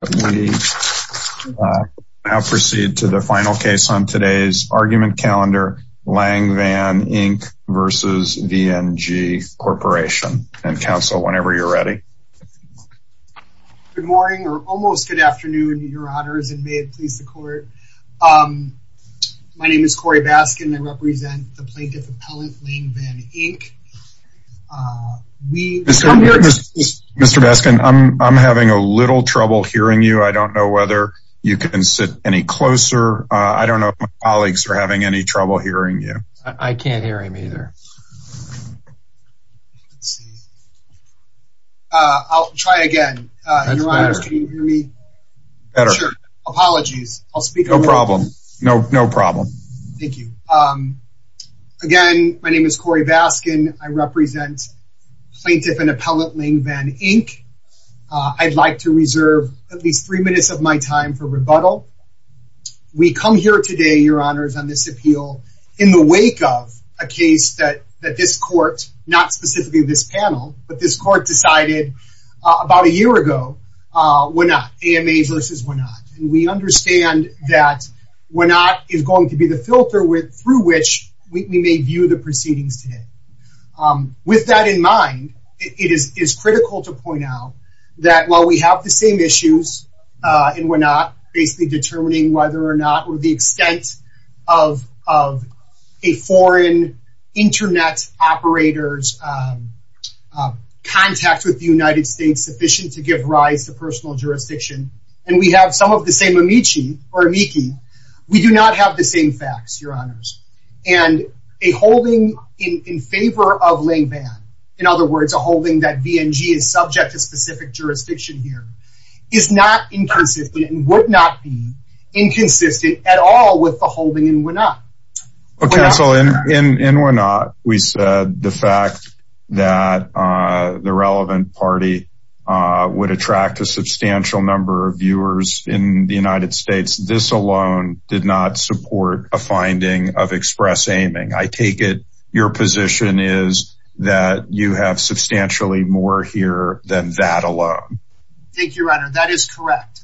We now proceed to the final case on today's argument calendar, Lang Van, Inc. v. VNG Corporation. And counsel, whenever you're ready. Good morning, or almost good afternoon, your honors, and may it please the court. My name is Corey Baskin, I represent the plaintiff appellant, Lang Van, Inc. Mr. Baskin, I'm having a little trouble hearing you. I don't know whether you can sit any closer. I don't know if my colleagues are having any trouble hearing you. I can't hear him either. I'll try again. Your honors, can you hear me? Sure. Apologies. I'll speak over. No problem. No problem. Thank you. Again, my name is Corey Baskin. I represent plaintiff and appellant, Lang Van, Inc. I'd like to reserve at least three minutes of my time for rebuttal. We come here today, your honors, on this appeal in the wake of a case that this court, not specifically this panel, but this court decided about a year ago, Wenat, AMA versus Wenat. We understand that Wenat is going to be the filter through which we may view the proceedings today. With that in mind, it is critical to point out that while we have the same issues in Wenat, basically determining whether or not the extent of a foreign internet operator's contact with the United States sufficient to give rise to personal jurisdiction, and we have some of the same amici or amici, we do not have the same facts, your honors. And a holding in favor of Lang Van, in other words, a holding that BNG is subject to specific jurisdiction here, is not inconsistent and would not be inconsistent at all with the holding in Wenat. Counsel, in Wenat, we said the fact that the relevant party would attract a substantial number of viewers in the United States. This alone did not support a finding of express aiming. I take it your position is that you have substantially more here than that alone. Thank you, your honor. That is correct.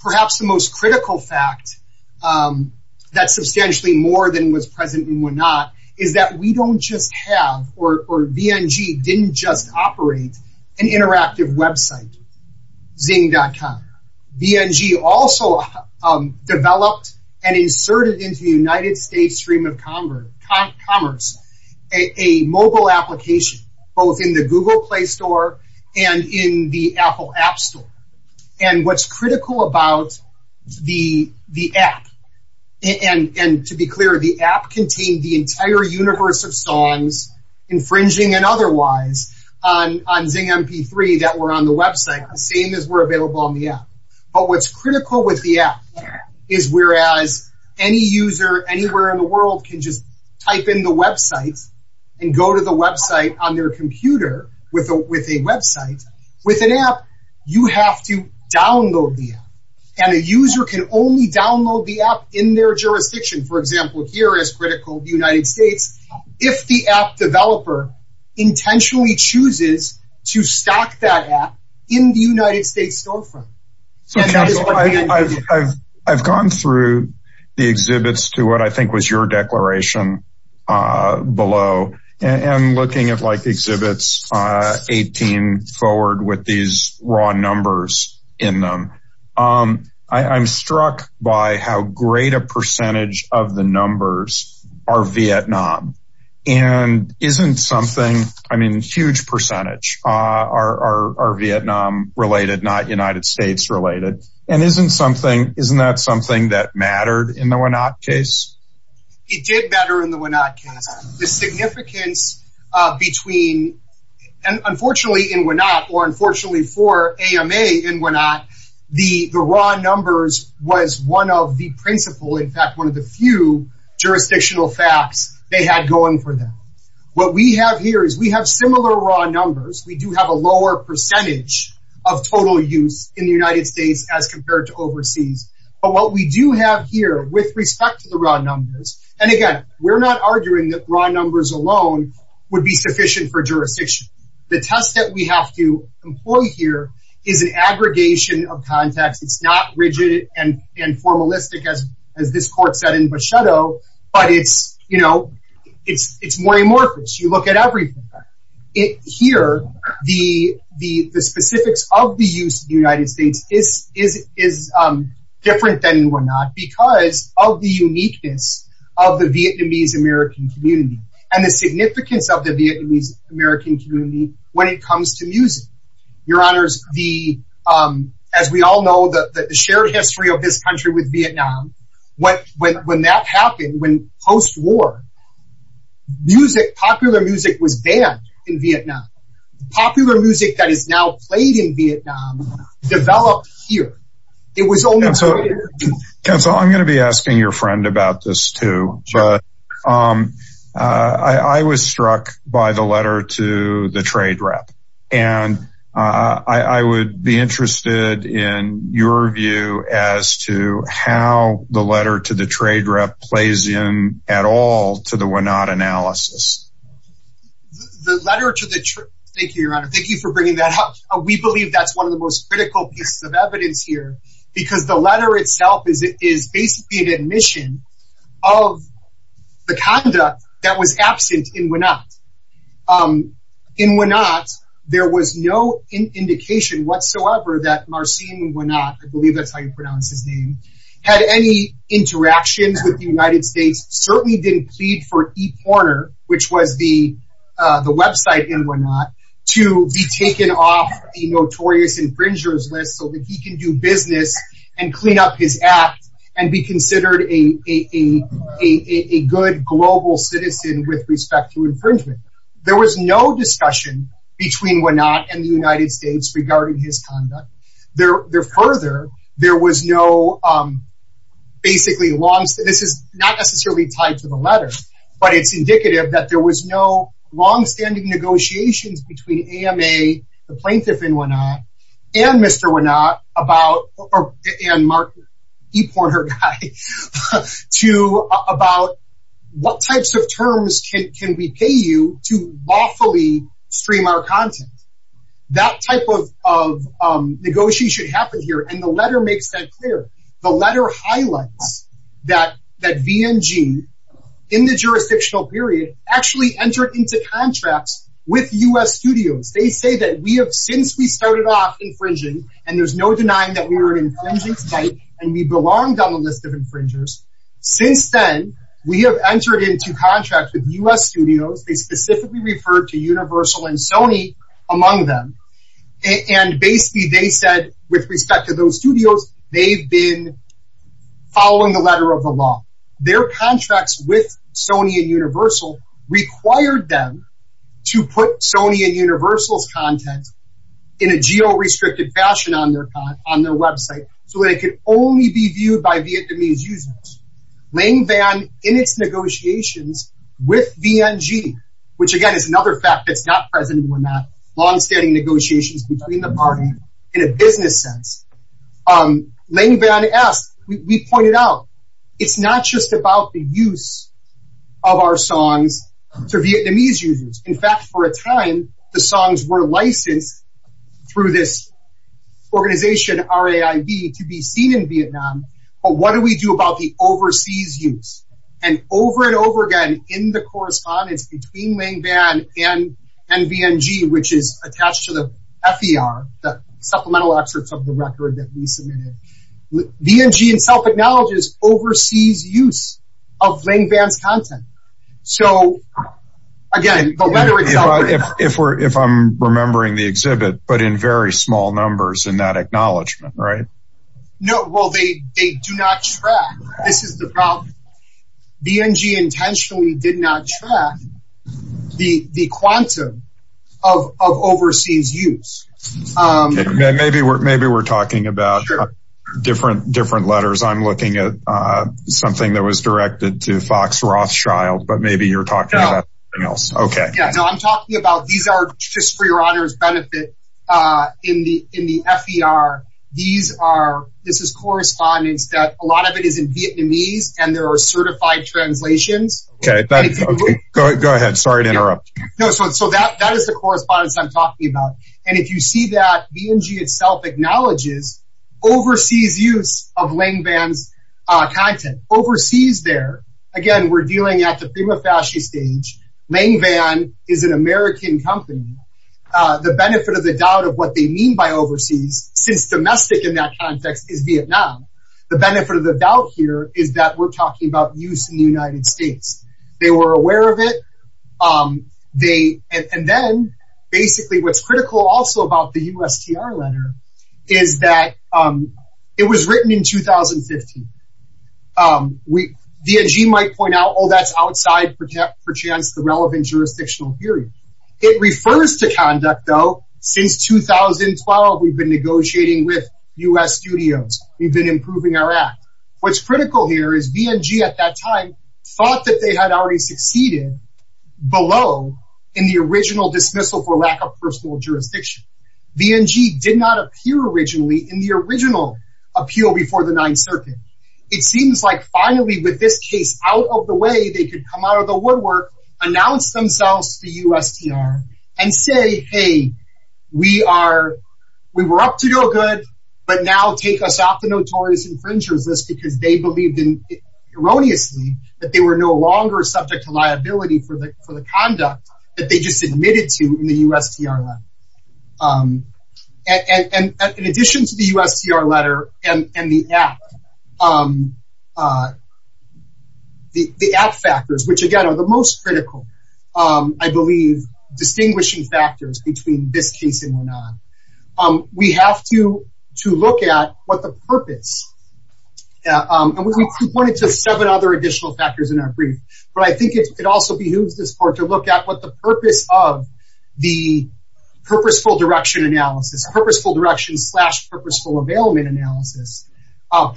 Perhaps the most critical fact that substantially more than was present in Wenat is that we don't just have, or BNG didn't just operate an interactive website, zing.com. BNG also developed and inserted into the United States stream of commerce a mobile application, both in the Google Play Store and in the Apple App Store. And what's critical about the app, and to be clear, the app contained the entire universe of songs, infringing and otherwise, on Zing MP3 that were on the website, the same as were available on the app. But what's critical with the app is whereas any user anywhere in the world can just type in the website and go to the website on their computer with a website, with an app, you have to download the app. And a user can only download the app in their jurisdiction, for example, here is critical, the United States, if the app developer intentionally chooses to stock that app in the United States storefront. So, counsel, I've gone through the exhibits to what I think was your declaration below, and looking at like exhibits 18 forward with these raw numbers in them. I'm struck by how great a percentage of the numbers are Vietnam. And isn't something, I mean, huge percentage are Vietnam related, not United States related. And isn't something, isn't that something that mattered in the Wenat case? It did better in the Wenat case. The significance between, and unfortunately in Wenat, or unfortunately for AMA in Wenat, the raw numbers was one of the principle, in fact, one of the few jurisdictional facts they had going for them. What we have here is we have similar raw numbers, we do have a lower percentage of total use in the United States as compared to overseas. But what we do have here with respect to the raw numbers, and again, we're not arguing that raw numbers alone would be sufficient for jurisdiction. The test that we have to employ here is an aggregation of context. It's not rigid and formalistic as this court said in Bochetto, but it's, you know, it's more amorphous. You look at everything. Here, the specifics of the use of the United States is different than in Wenat because of the uniqueness of the Vietnamese American community and the significance of the Vietnamese American community when it comes to music. Your Honors, as we all know, the shared history of this country with Vietnam, when that happened, when post-war music, popular music was banned in Vietnam. Popular music that is now played in Vietnam developed here. It was only here. Counsel, I'm going to be asking your friend about this too, but I was struck by the letter to the trade rep. And I would be interested in your view as to how the letter to the trade rep plays in at all to the Wenat analysis. The letter to the trade, thank you, Your Honor, thank you for bringing that up. We believe that's one of the most critical pieces of evidence here because the letter itself is basically an admission of the conduct that was absent in Wenat. In Wenat, there was no indication whatsoever that Marcin Wenat, I believe that's how you pronounce his name, had any interactions with the United States, certainly didn't plead for ePorner, which was the website in Wenat, to be taken off the notorious infringers list so that he can do business and clean up his act and be considered a good global citizen with respect to infringement. There was no discussion between Wenat and the United States regarding his conduct. Further, there was no, basically, this is not necessarily tied to the letter, but it's indicative that there was no longstanding negotiations between AMA, the plaintiff in Wenat, and Mr. Wenat about, and Marcin, ePorner guy, to about what types of terms can we pay you to lawfully stream our content. That type of negotiation happened here, and the letter makes that clear. The letter highlights that VNG, in the jurisdictional period, actually entered into contracts with U.S. studios. They say that we have, since we started off infringing, and there's no denying that we were an infringing site, and we belonged on the list of infringers, since then, we have entered into contracts with U.S. studios, they specifically referred to Universal and Sony among them, and basically they said, with respect to those studios, they've been following the letter of the law. Their contracts with Sony and Universal required them to put Sony and Universal's content in a geo-restricted fashion on their website, so that it could only be viewed by Vietnamese users. Lang Van, in its negotiations with VNG, which, again, is another fact that's not present in Wenat, longstanding negotiations between the party, in a business sense, Lang Van asked, we pointed out, it's not just about the use of our songs to Vietnamese users. In fact, for a time, the songs were licensed through this organization, RAIB, to be seen in Vietnam, but what do we do about the overseas use? And over and over again, in the correspondence between Lang Van and VNG, which is attached to the FER, the supplemental excerpts of the record that we submitted, VNG itself acknowledges overseas use of Lang Van's content. So, again, the letter itself... If I'm remembering the exhibit, but in very small numbers in that acknowledgment, right? No, well, they do not track. This is the problem. VNG intentionally did not track the quantum of overseas use. Okay, maybe we're talking about different letters. I'm looking at something that was directed to Fox Rothschild, but maybe you're talking about something else. Okay. Yeah, no, I'm talking about, these are, just for your honor's benefit, in the FER, this is correspondence that a lot of it is in Vietnamese and there are certified translations. Okay, go ahead. Sorry to interrupt. No, so that is the correspondence I'm talking about. And if you see that, VNG itself acknowledges overseas use of Lang Van's content. Overseas there, again, we're dealing at the prima facie stage. Lang Van is an American company. The benefit of the doubt of what they mean by overseas, since domestic in that context is Vietnam, the benefit of the doubt here is that we're talking about use in the United States. They were aware of it. And then basically what's critical also about the USTR letter is that it was written in 2015. VNG might point out, oh, that's outside, per chance, the relevant jurisdictional period. It refers to conduct though, since 2012, we've been negotiating with US studios. We've been improving our act. What's critical here is VNG at that time thought that they had already succeeded below in the original dismissal for lack of personal jurisdiction. VNG did not appear originally in the original appeal before the Ninth Circuit. It seems like finally with this case out of the way, they could come out of the woodwork, announce themselves to USTR and say, hey, we are, we were up to no good, but now take us off the notorious infringers list because they believed in erroneously that they were no longer subject to liability for the conduct that they just admitted to in the USTR letter. And in addition to the USTR letter and the act, the act factors, which again are the most critical, I believe distinguishing factors between this case and we're not. We have to look at what the purpose, and we pointed to seven other additional factors in our brief, but I think it also behooves this court to look at what the purpose of the purposeful direction analysis,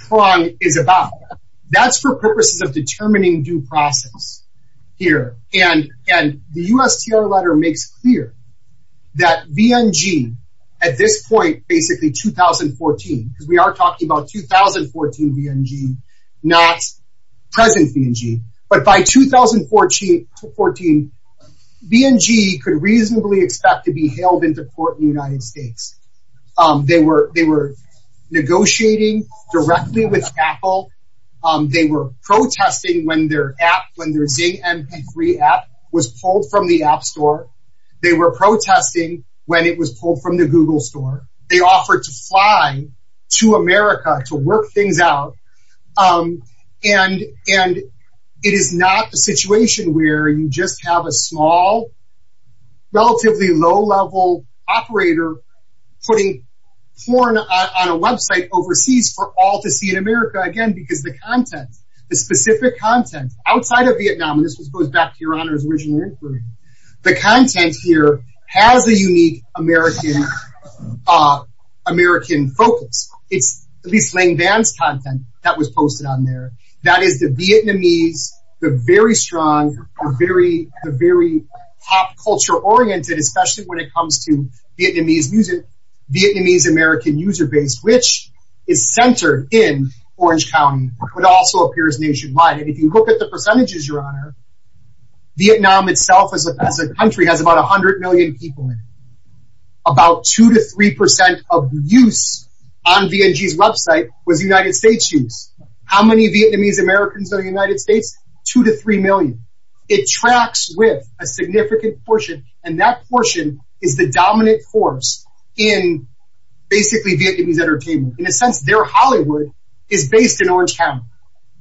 prong is about. That's for purposes of determining due process here. And the USTR letter makes clear that VNG at this point, basically 2014, because we are talking about 2014 VNG, not present VNG, but by 2014, VNG could reasonably expect to be held into court in the United States. They were, they were negotiating directly with Apple. They were protesting when their app, when their Zing MP3 app was pulled from the app store. They were protesting when it was pulled from the Google store. They offered to fly to America to work things out. And, and it is not a situation where you just have a small, relatively low level operator putting porn on a website overseas for all to see in America. Again, because the content, the specific content outside of Vietnam, and this goes back to your honor's original inquiry, the content here has a unique American, American focus. It's at least Lang Van's content that was posted on there. That is the Vietnamese, the very strong, very, very pop culture oriented, especially when it comes to Vietnamese music, Vietnamese American user base, which is centered in Orange County, but also appears nationwide. And if you look at the percentages, your honor, Vietnam itself as a country has about 100 million people in it. About two to 3% of use on VNG's website was United States use. How many Vietnamese Americans are in the United States? Two to three million. It tracks with a significant portion, and that portion is the dominant force in basically Vietnamese entertainment. In a sense, their Hollywood is based in Orange County.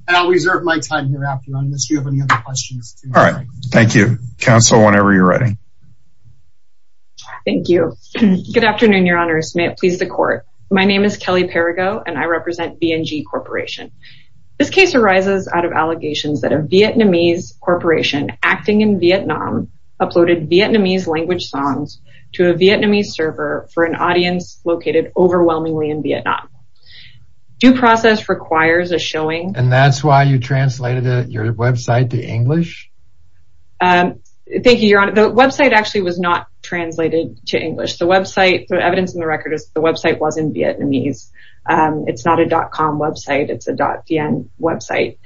And I'll reserve my time here after unless you have any other questions. All right. Thank you. Counsel, whenever you're ready. Thank you. Good afternoon, your honor. May it please the court. My name is Kelly Perigo, and I represent VNG Corporation. This case arises out of allegations that a Vietnamese corporation acting in Vietnam uploaded Vietnamese language songs to a Vietnamese server for an audience located overwhelmingly in Vietnam. Due process requires a showing. And that's why you translated your website to English? Thank you, your honor. The website actually was not translated to English. The website, the evidence in the record is the website wasn't Vietnamese. It's not a .com website. It's a .vn website.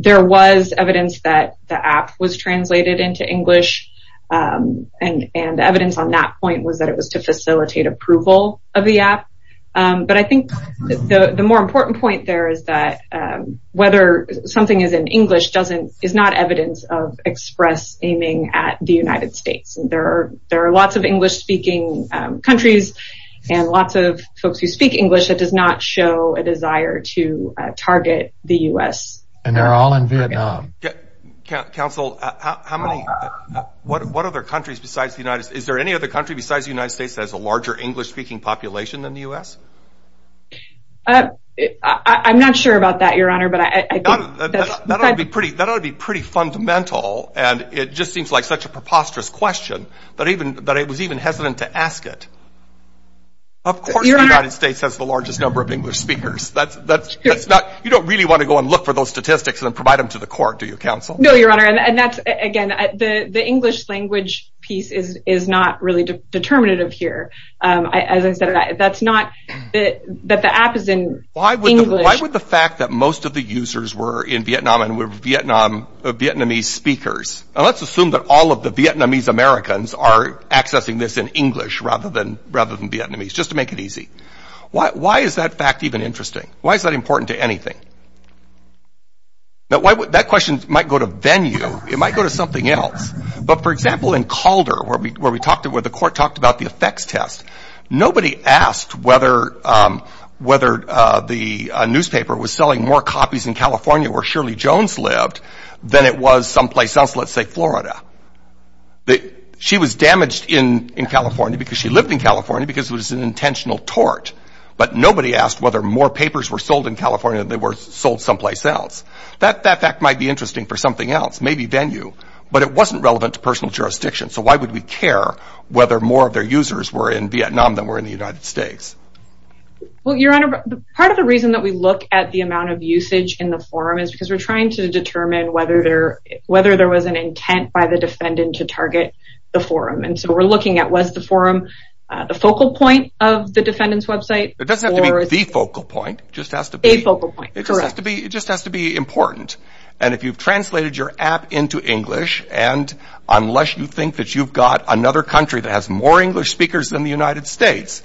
There was evidence that the app was translated into English, and evidence on that point was that it was to facilitate approval of the app. But I think the more important point there is that whether something is in English is not evidence of express aiming at the United States. There are lots of English-speaking countries and lots of folks who speak English that does not show a desire to target the U.S. And they're all in Vietnam. Counsel, what other countries besides the United States, is there any other country besides the United States that has a larger English-speaking population than the U.S.? I'm not sure about that, your honor. That would be pretty fundamental, and it just seems like such a preposterous question that I was even hesitant to ask it. Of course the United States has the largest number of English speakers. You don't really want to go and look for those statistics and provide them to the court, do you, counsel? No, your honor. And that's, again, the English language piece is not really determinative here. As I said, that's not that the app is in English. But why would the fact that most of the users were in Vietnam and were Vietnamese speakers, and let's assume that all of the Vietnamese Americans are accessing this in English rather than Vietnamese, just to make it easy, why is that fact even interesting? Why is that important to anything? That question might go to venue. It might go to something else. But, for example, in Calder, where the court talked about the effects test, nobody asked whether the newspaper was selling more copies in California where Shirley Jones lived than it was someplace else, let's say Florida. She was damaged in California because she lived in California because it was an intentional tort. But nobody asked whether more papers were sold in California than they were sold someplace else. That fact might be interesting for something else, maybe venue. But it wasn't relevant to personal jurisdiction, so why would we care whether more of their users were in Vietnam than were in the United States? Well, Your Honor, part of the reason that we look at the amount of usage in the forum is because we're trying to determine whether there was an intent by the defendant to target the forum. And so we're looking at was the forum the focal point of the defendant's website? It doesn't have to be the focal point. It just has to be important. And if you've translated your app into English, and unless you think that you've got another country that has more English speakers than the United States,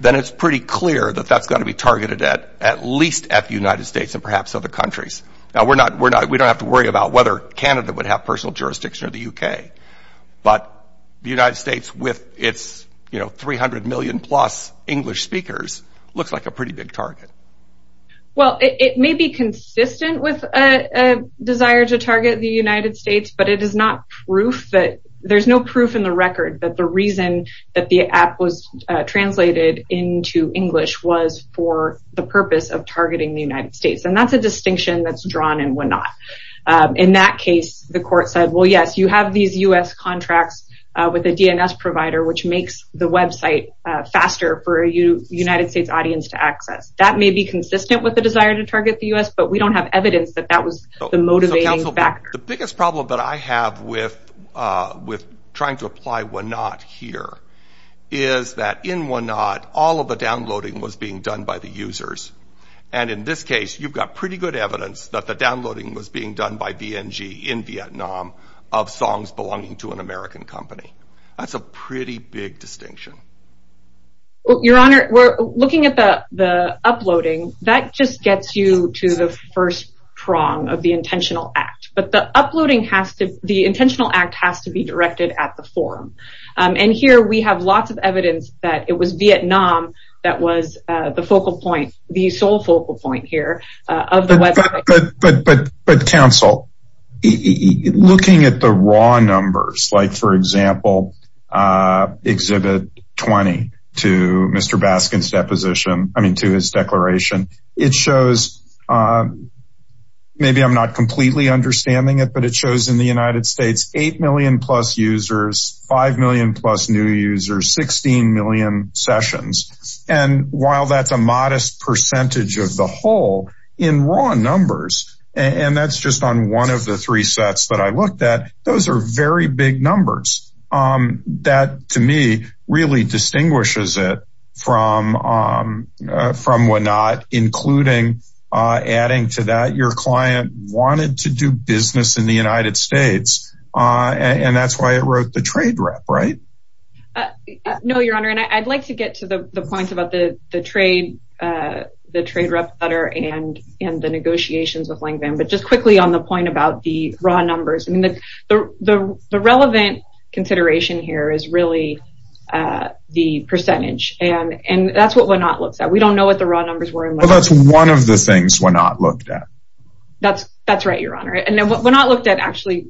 then it's pretty clear that that's got to be targeted at least at the United States and perhaps other countries. Now, we don't have to worry about whether Canada would have personal jurisdiction or the U.K., but the United States with its 300 million-plus English speakers looks like a pretty big target. Well, it may be consistent with a desire to target the United States, but there's no proof in the record that the reason that the app was translated into English was for the purpose of targeting the United States. And that's a distinction that's drawn and whatnot. In that case, the court said, well, yes, you have these U.S. contracts with a DNS provider, which makes the website faster for a United States audience to access. That may be consistent with the desire to target the U.S., but we don't have evidence that that was the motivating factor. The biggest problem that I have with trying to apply whatnot here is that in whatnot, all of the downloading was being done by the users. And in this case, you've got pretty good evidence that the downloading was being done by VNG in Vietnam of songs belonging to an American company. That's a pretty big distinction. Your Honor, looking at the uploading, that just gets you to the first prong of the intentional act. But the intentional act has to be directed at the forum. And here we have lots of evidence that it was Vietnam that was the focal point, the sole focal point here of the website. But, counsel, looking at the raw numbers, like, for example, Exhibit 20 to Mr. Baskin's deposition, I mean to his declaration, it shows, maybe I'm not completely understanding it, but it shows in the United States 8 million-plus users, 5 million-plus new users, 16 million sessions. And while that's a modest percentage of the whole, in raw numbers, and that's just on one of the three sets that I looked at, those are very big numbers. That, to me, really distinguishes it from WANOT, including adding to that your client wanted to do business in the United States, and that's why it wrote the trade rep, right? No, Your Honor, and I'd like to get to the points about the trade rep letter and the negotiations with Lang Van, but just quickly on the point about the raw numbers. I mean, the relevant consideration here is really the percentage, and that's what WANOT looks at. We don't know what the raw numbers were in WANOT. Well, that's one of the things WANOT looked at. That's right, Your Honor, and WANOT looked at, actually,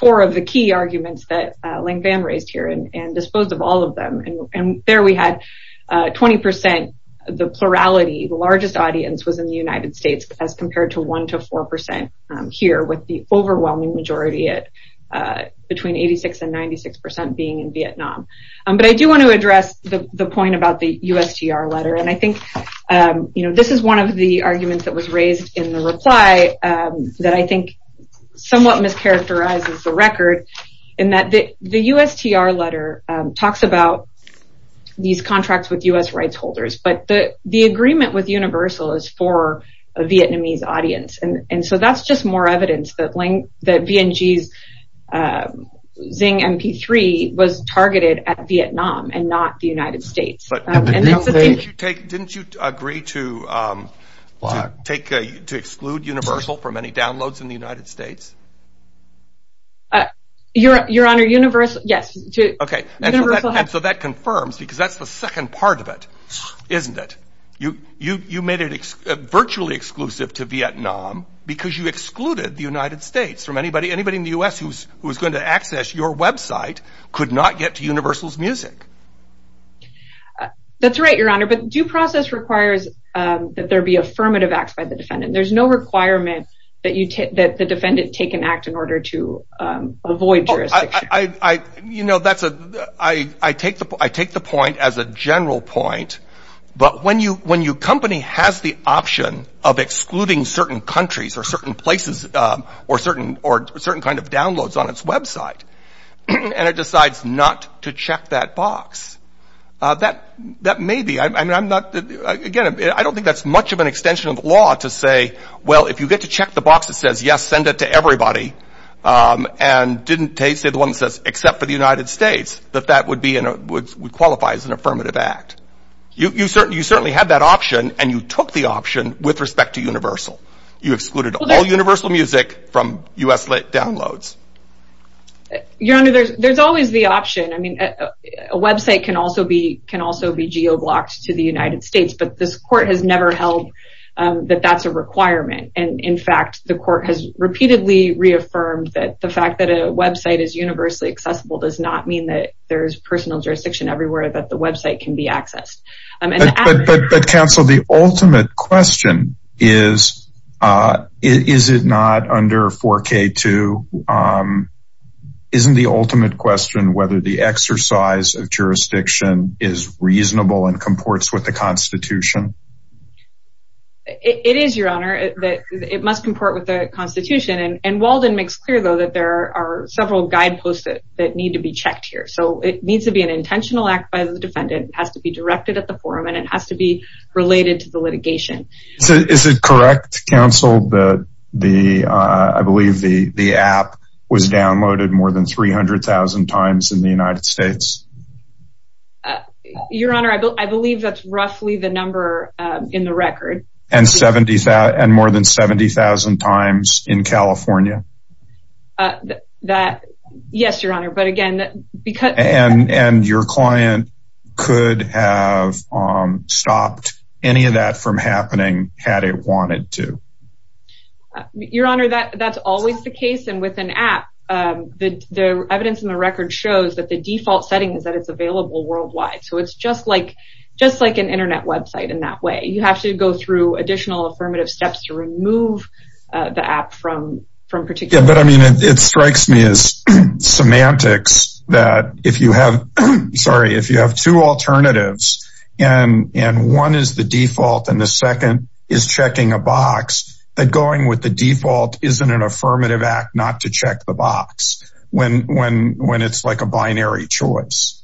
four of the key arguments that Lang Van raised here and disposed of all of them, and there we had 20 percent, the plurality, the largest audience was in the United States as compared to 1 to 4 percent here with the overwhelming majority at between 86 and 96 percent being in Vietnam. But I do want to address the point about the USTR letter, and I think this is one of the arguments that was raised in the reply that I think somewhat mischaracterizes the record in that the USTR letter talks about these contracts with U.S. rights holders, but the agreement with Universal is for a Vietnamese audience, and so that's just more evidence that VNG's Zing MP3 was targeted at Vietnam and not the United States. Didn't you agree to exclude Universal from any downloads in the United States? Your Honor, Universal, yes. Okay, and so that confirms, because that's the second part of it, isn't it? You made it virtually exclusive to Vietnam because you excluded the United States from anybody in the U.S. who was going to access your website could not get to Universal's music. That's right, Your Honor, but due process requires that there be affirmative acts by the defendant. There's no requirement that the defendant take an act in order to avoid jurisdiction. I take the point as a general point, but when your company has the option of excluding certain countries or certain places or certain kind of downloads on its website and it decides not to check that box, that may be. Again, I don't think that's much of an extension of law to say, well, if you get to check the box, it says, yes, send it to everybody, and didn't say the one that says, except for the United States, that that would qualify as an affirmative act. You certainly had that option, and you took the option with respect to Universal. You excluded all Universal music from U.S.-lit downloads. Your Honor, there's always the option. I mean, a website can also be geo-blocked to the United States, but this court has never held that that's a requirement. And in fact, the court has repeatedly reaffirmed that the fact that a website is universally accessible does not mean that there's personal jurisdiction everywhere, that the website can be accessed. But counsel, the ultimate question is, is it not under 4K2? Isn't the ultimate question whether the exercise of jurisdiction is reasonable and comports with the Constitution? It is, Your Honor, that it must comport with the Constitution. And Walden makes clear, though, that there are several guideposts that need to be checked here. So it needs to be an intentional act by the defendant. It has to be directed at the forum, and it has to be related to the litigation. Is it correct, counsel, that I believe the app was downloaded more than 300,000 times in the United States? Your Honor, I believe that's roughly the number in the record. And more than 70,000 times in California? Yes, Your Honor. And your client could have stopped any of that from happening had it wanted to? Your Honor, that's always the case. And with an app, the evidence in the record shows that the default setting is that it's available worldwide. So it's just like an Internet website in that way. You have to go through additional affirmative steps to remove the app from particular sites. But, I mean, it strikes me as semantics that if you have two alternatives and one is the default and the second is checking a box, that going with the default isn't an affirmative act not to check the box when it's like a binary choice.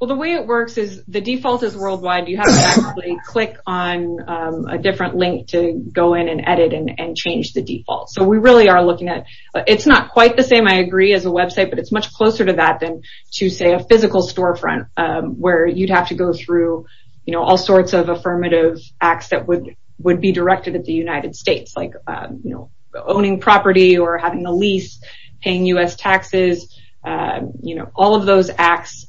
Well, the way it works is the default is worldwide. You have to actually click on a different link to go in and edit and change the default. So we really are looking at it's not quite the same, I agree, as a website, but it's much closer to that than to, say, a physical storefront where you'd have to go through all sorts of affirmative acts that would be directed at the United States, like owning property or having a lease, paying U.S. taxes. All of those acts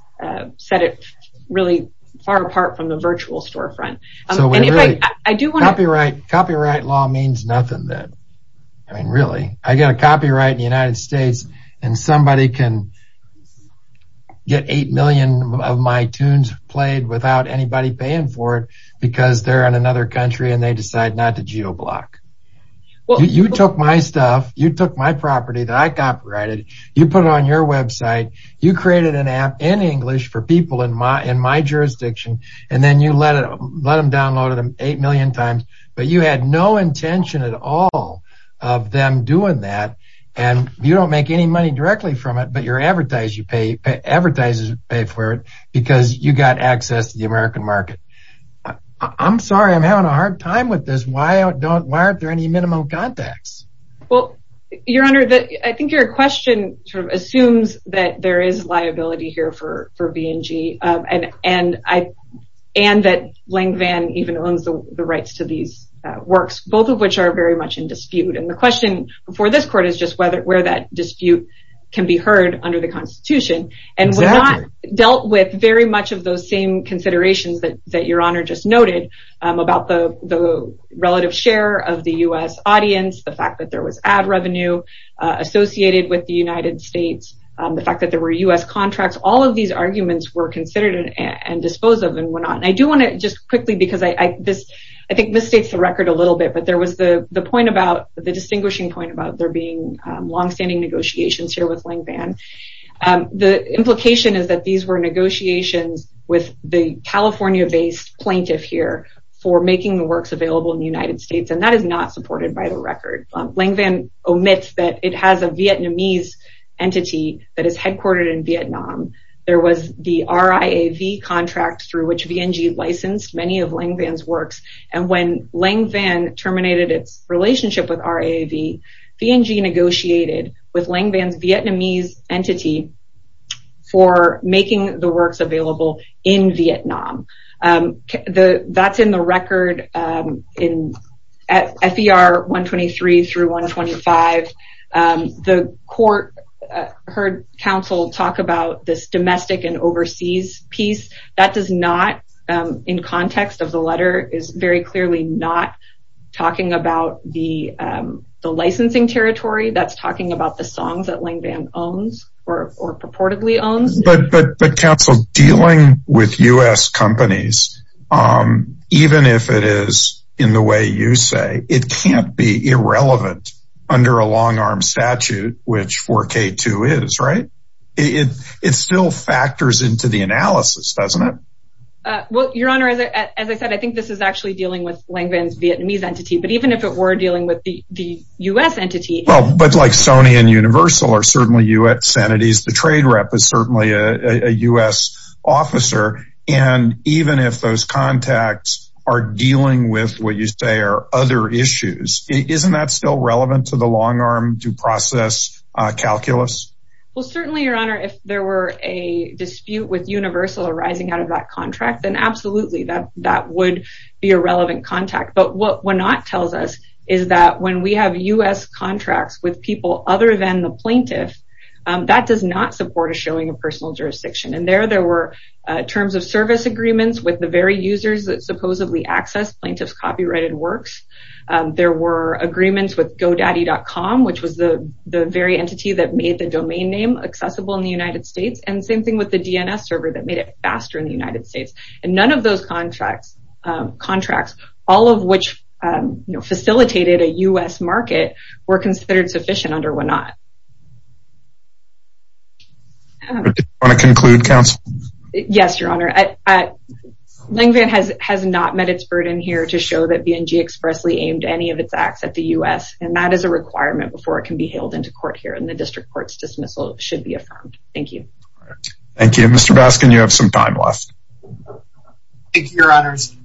set it really far apart from the virtual storefront. Copyright law means nothing then. I mean, really. I get a copyright in the United States, and somebody can get 8 million of my tunes played without anybody paying for it because they're in another country and they decide not to geoblock. You took my stuff, you took my property that I copyrighted, you put it on your website, you created an app in English for people in my jurisdiction, and then you let them download it 8 million times, but you had no intention at all of them doing that, and you don't make any money directly from it, but your advertisers pay for it because you got access to the American market. I'm sorry, I'm having a hard time with this. Why aren't there any minimum contacts? Well, Your Honor, I think your question sort of assumes that there is liability here for B&G and that Lang Vann even owns the rights to these works, both of which are very much in dispute, and the question for this court is just where that dispute can be heard under the Constitution. And we've not dealt with very much of those same considerations that Your Honor just noted about the relative share of the U.S. audience, the fact that there was ad revenue associated with the United States, the fact that there were U.S. contracts. All of these arguments were considered and disposed of and went on. I do want to just quickly, because I think this states the record a little bit, but there was the distinguishing point about there being longstanding negotiations here with Lang Vann. The implication is that these were negotiations with the California-based plaintiff here for making the works available in the United States, and that is not supported by the record. Lang Vann omits that it has a Vietnamese entity that is headquartered in Vietnam. There was the RIAV contract through which B&G licensed many of Lang Vann's works, and when Lang Vann terminated its relationship with RIAV, B&G negotiated with Lang Vann's Vietnamese entity for making the works available in Vietnam. That's in the record at FER 123 through 125. The court heard counsel talk about this domestic and overseas piece. That does not, in context of the letter, is very clearly not talking about the licensing territory. That's talking about the songs that Lang Vann owns or purportedly owns. But counsel, dealing with U.S. companies, even if it is in the way you say, it can't be irrelevant under a long-arm statute, which 4K2 is, right? It still factors into the analysis, doesn't it? Your Honor, as I said, I think this is actually dealing with Lang Vann's Vietnamese entity, but even if it were dealing with the U.S. entity... But like Sony and Universal are certainly U.S. entities. The trade rep is certainly a U.S. officer. And even if those contacts are dealing with what you say are other issues, isn't that still relevant to the long-arm due process calculus? Well, certainly, Your Honor, if there were a dispute with Universal arising out of that contract, then absolutely that would be a relevant contact. But what Wenat tells us is that when we have U.S. contracts with people other than the plaintiff, that does not support a showing of personal jurisdiction. And there were terms of service agreements with the very users that supposedly access plaintiff's copyrighted works. There were agreements with GoDaddy.com, which was the very entity that made the domain name accessible in the United States. And same thing with the DNS server that made it faster in the United States. And none of those contracts, all of which facilitated a U.S. market, were considered sufficient under Wenat. Do you want to conclude, Counsel? Yes, Your Honor. LangVan has not met its burden here to show that B&G expressly aimed any of its acts at the U.S., and that is a requirement before it can be hailed into court here. And the district court's dismissal should be affirmed. Thank you. Thank you. Mr. Baskin, you have some time left. Thank you, Your Honors.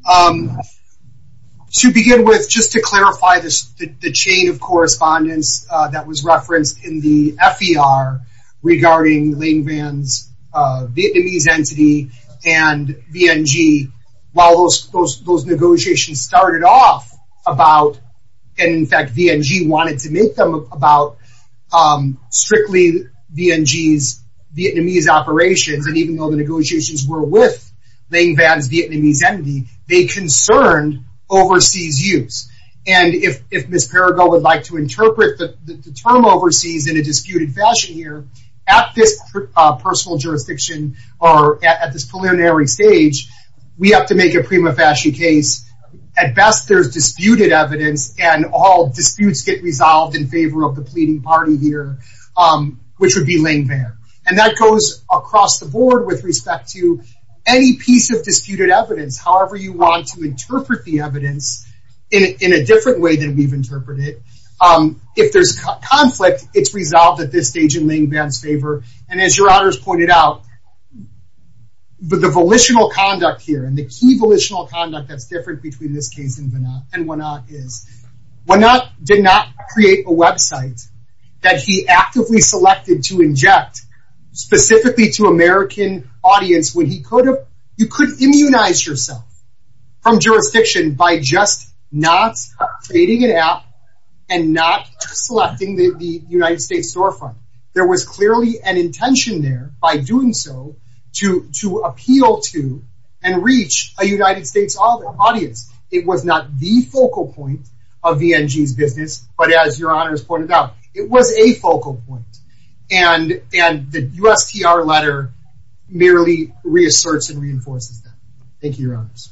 To begin with, just to clarify the chain of correspondence that was referenced in the F.E.R. regarding LangVan's Vietnamese entity and B&G, while those negotiations started off about, and in fact B&G wanted to make them about strictly B&G's Vietnamese operations, and even though the negotiations were with LangVan's Vietnamese entity, they concerned overseas use. And if Ms. Perrigo would like to interpret the term overseas in a disputed fashion here, at this personal jurisdiction, or at this preliminary stage, we have to make a prima facie case. At best, there's disputed evidence, and all disputes get resolved in favor of the pleading party here, which would be LangVan. And that goes across the board with respect to any piece of disputed evidence, however you want to interpret the evidence in a different way than we've interpreted it. If there's conflict, it's resolved at this stage in LangVan's favor. And as Your Honors pointed out, the volitional conduct here, and the key volitional conduct that's different between this case and Wenat is, Wenat did not create a website that he actively selected to inject specifically to American audience when you could immunize yourself from jurisdiction by just not creating an app and not selecting the United States Storefront. There was clearly an intention there, by doing so, to appeal to and reach a United States audience. It was not the focal point of B&G's business, but as Your Honors pointed out, it was a focal point. And the USTR letter merely reasserts and reinforces that. Thank you, Your Honors.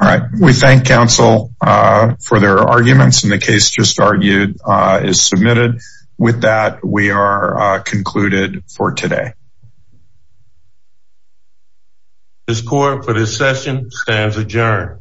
All right. We thank counsel for their arguments, and the case just argued is submitted. With that, we are concluded for today. This court, for this session, stands adjourned.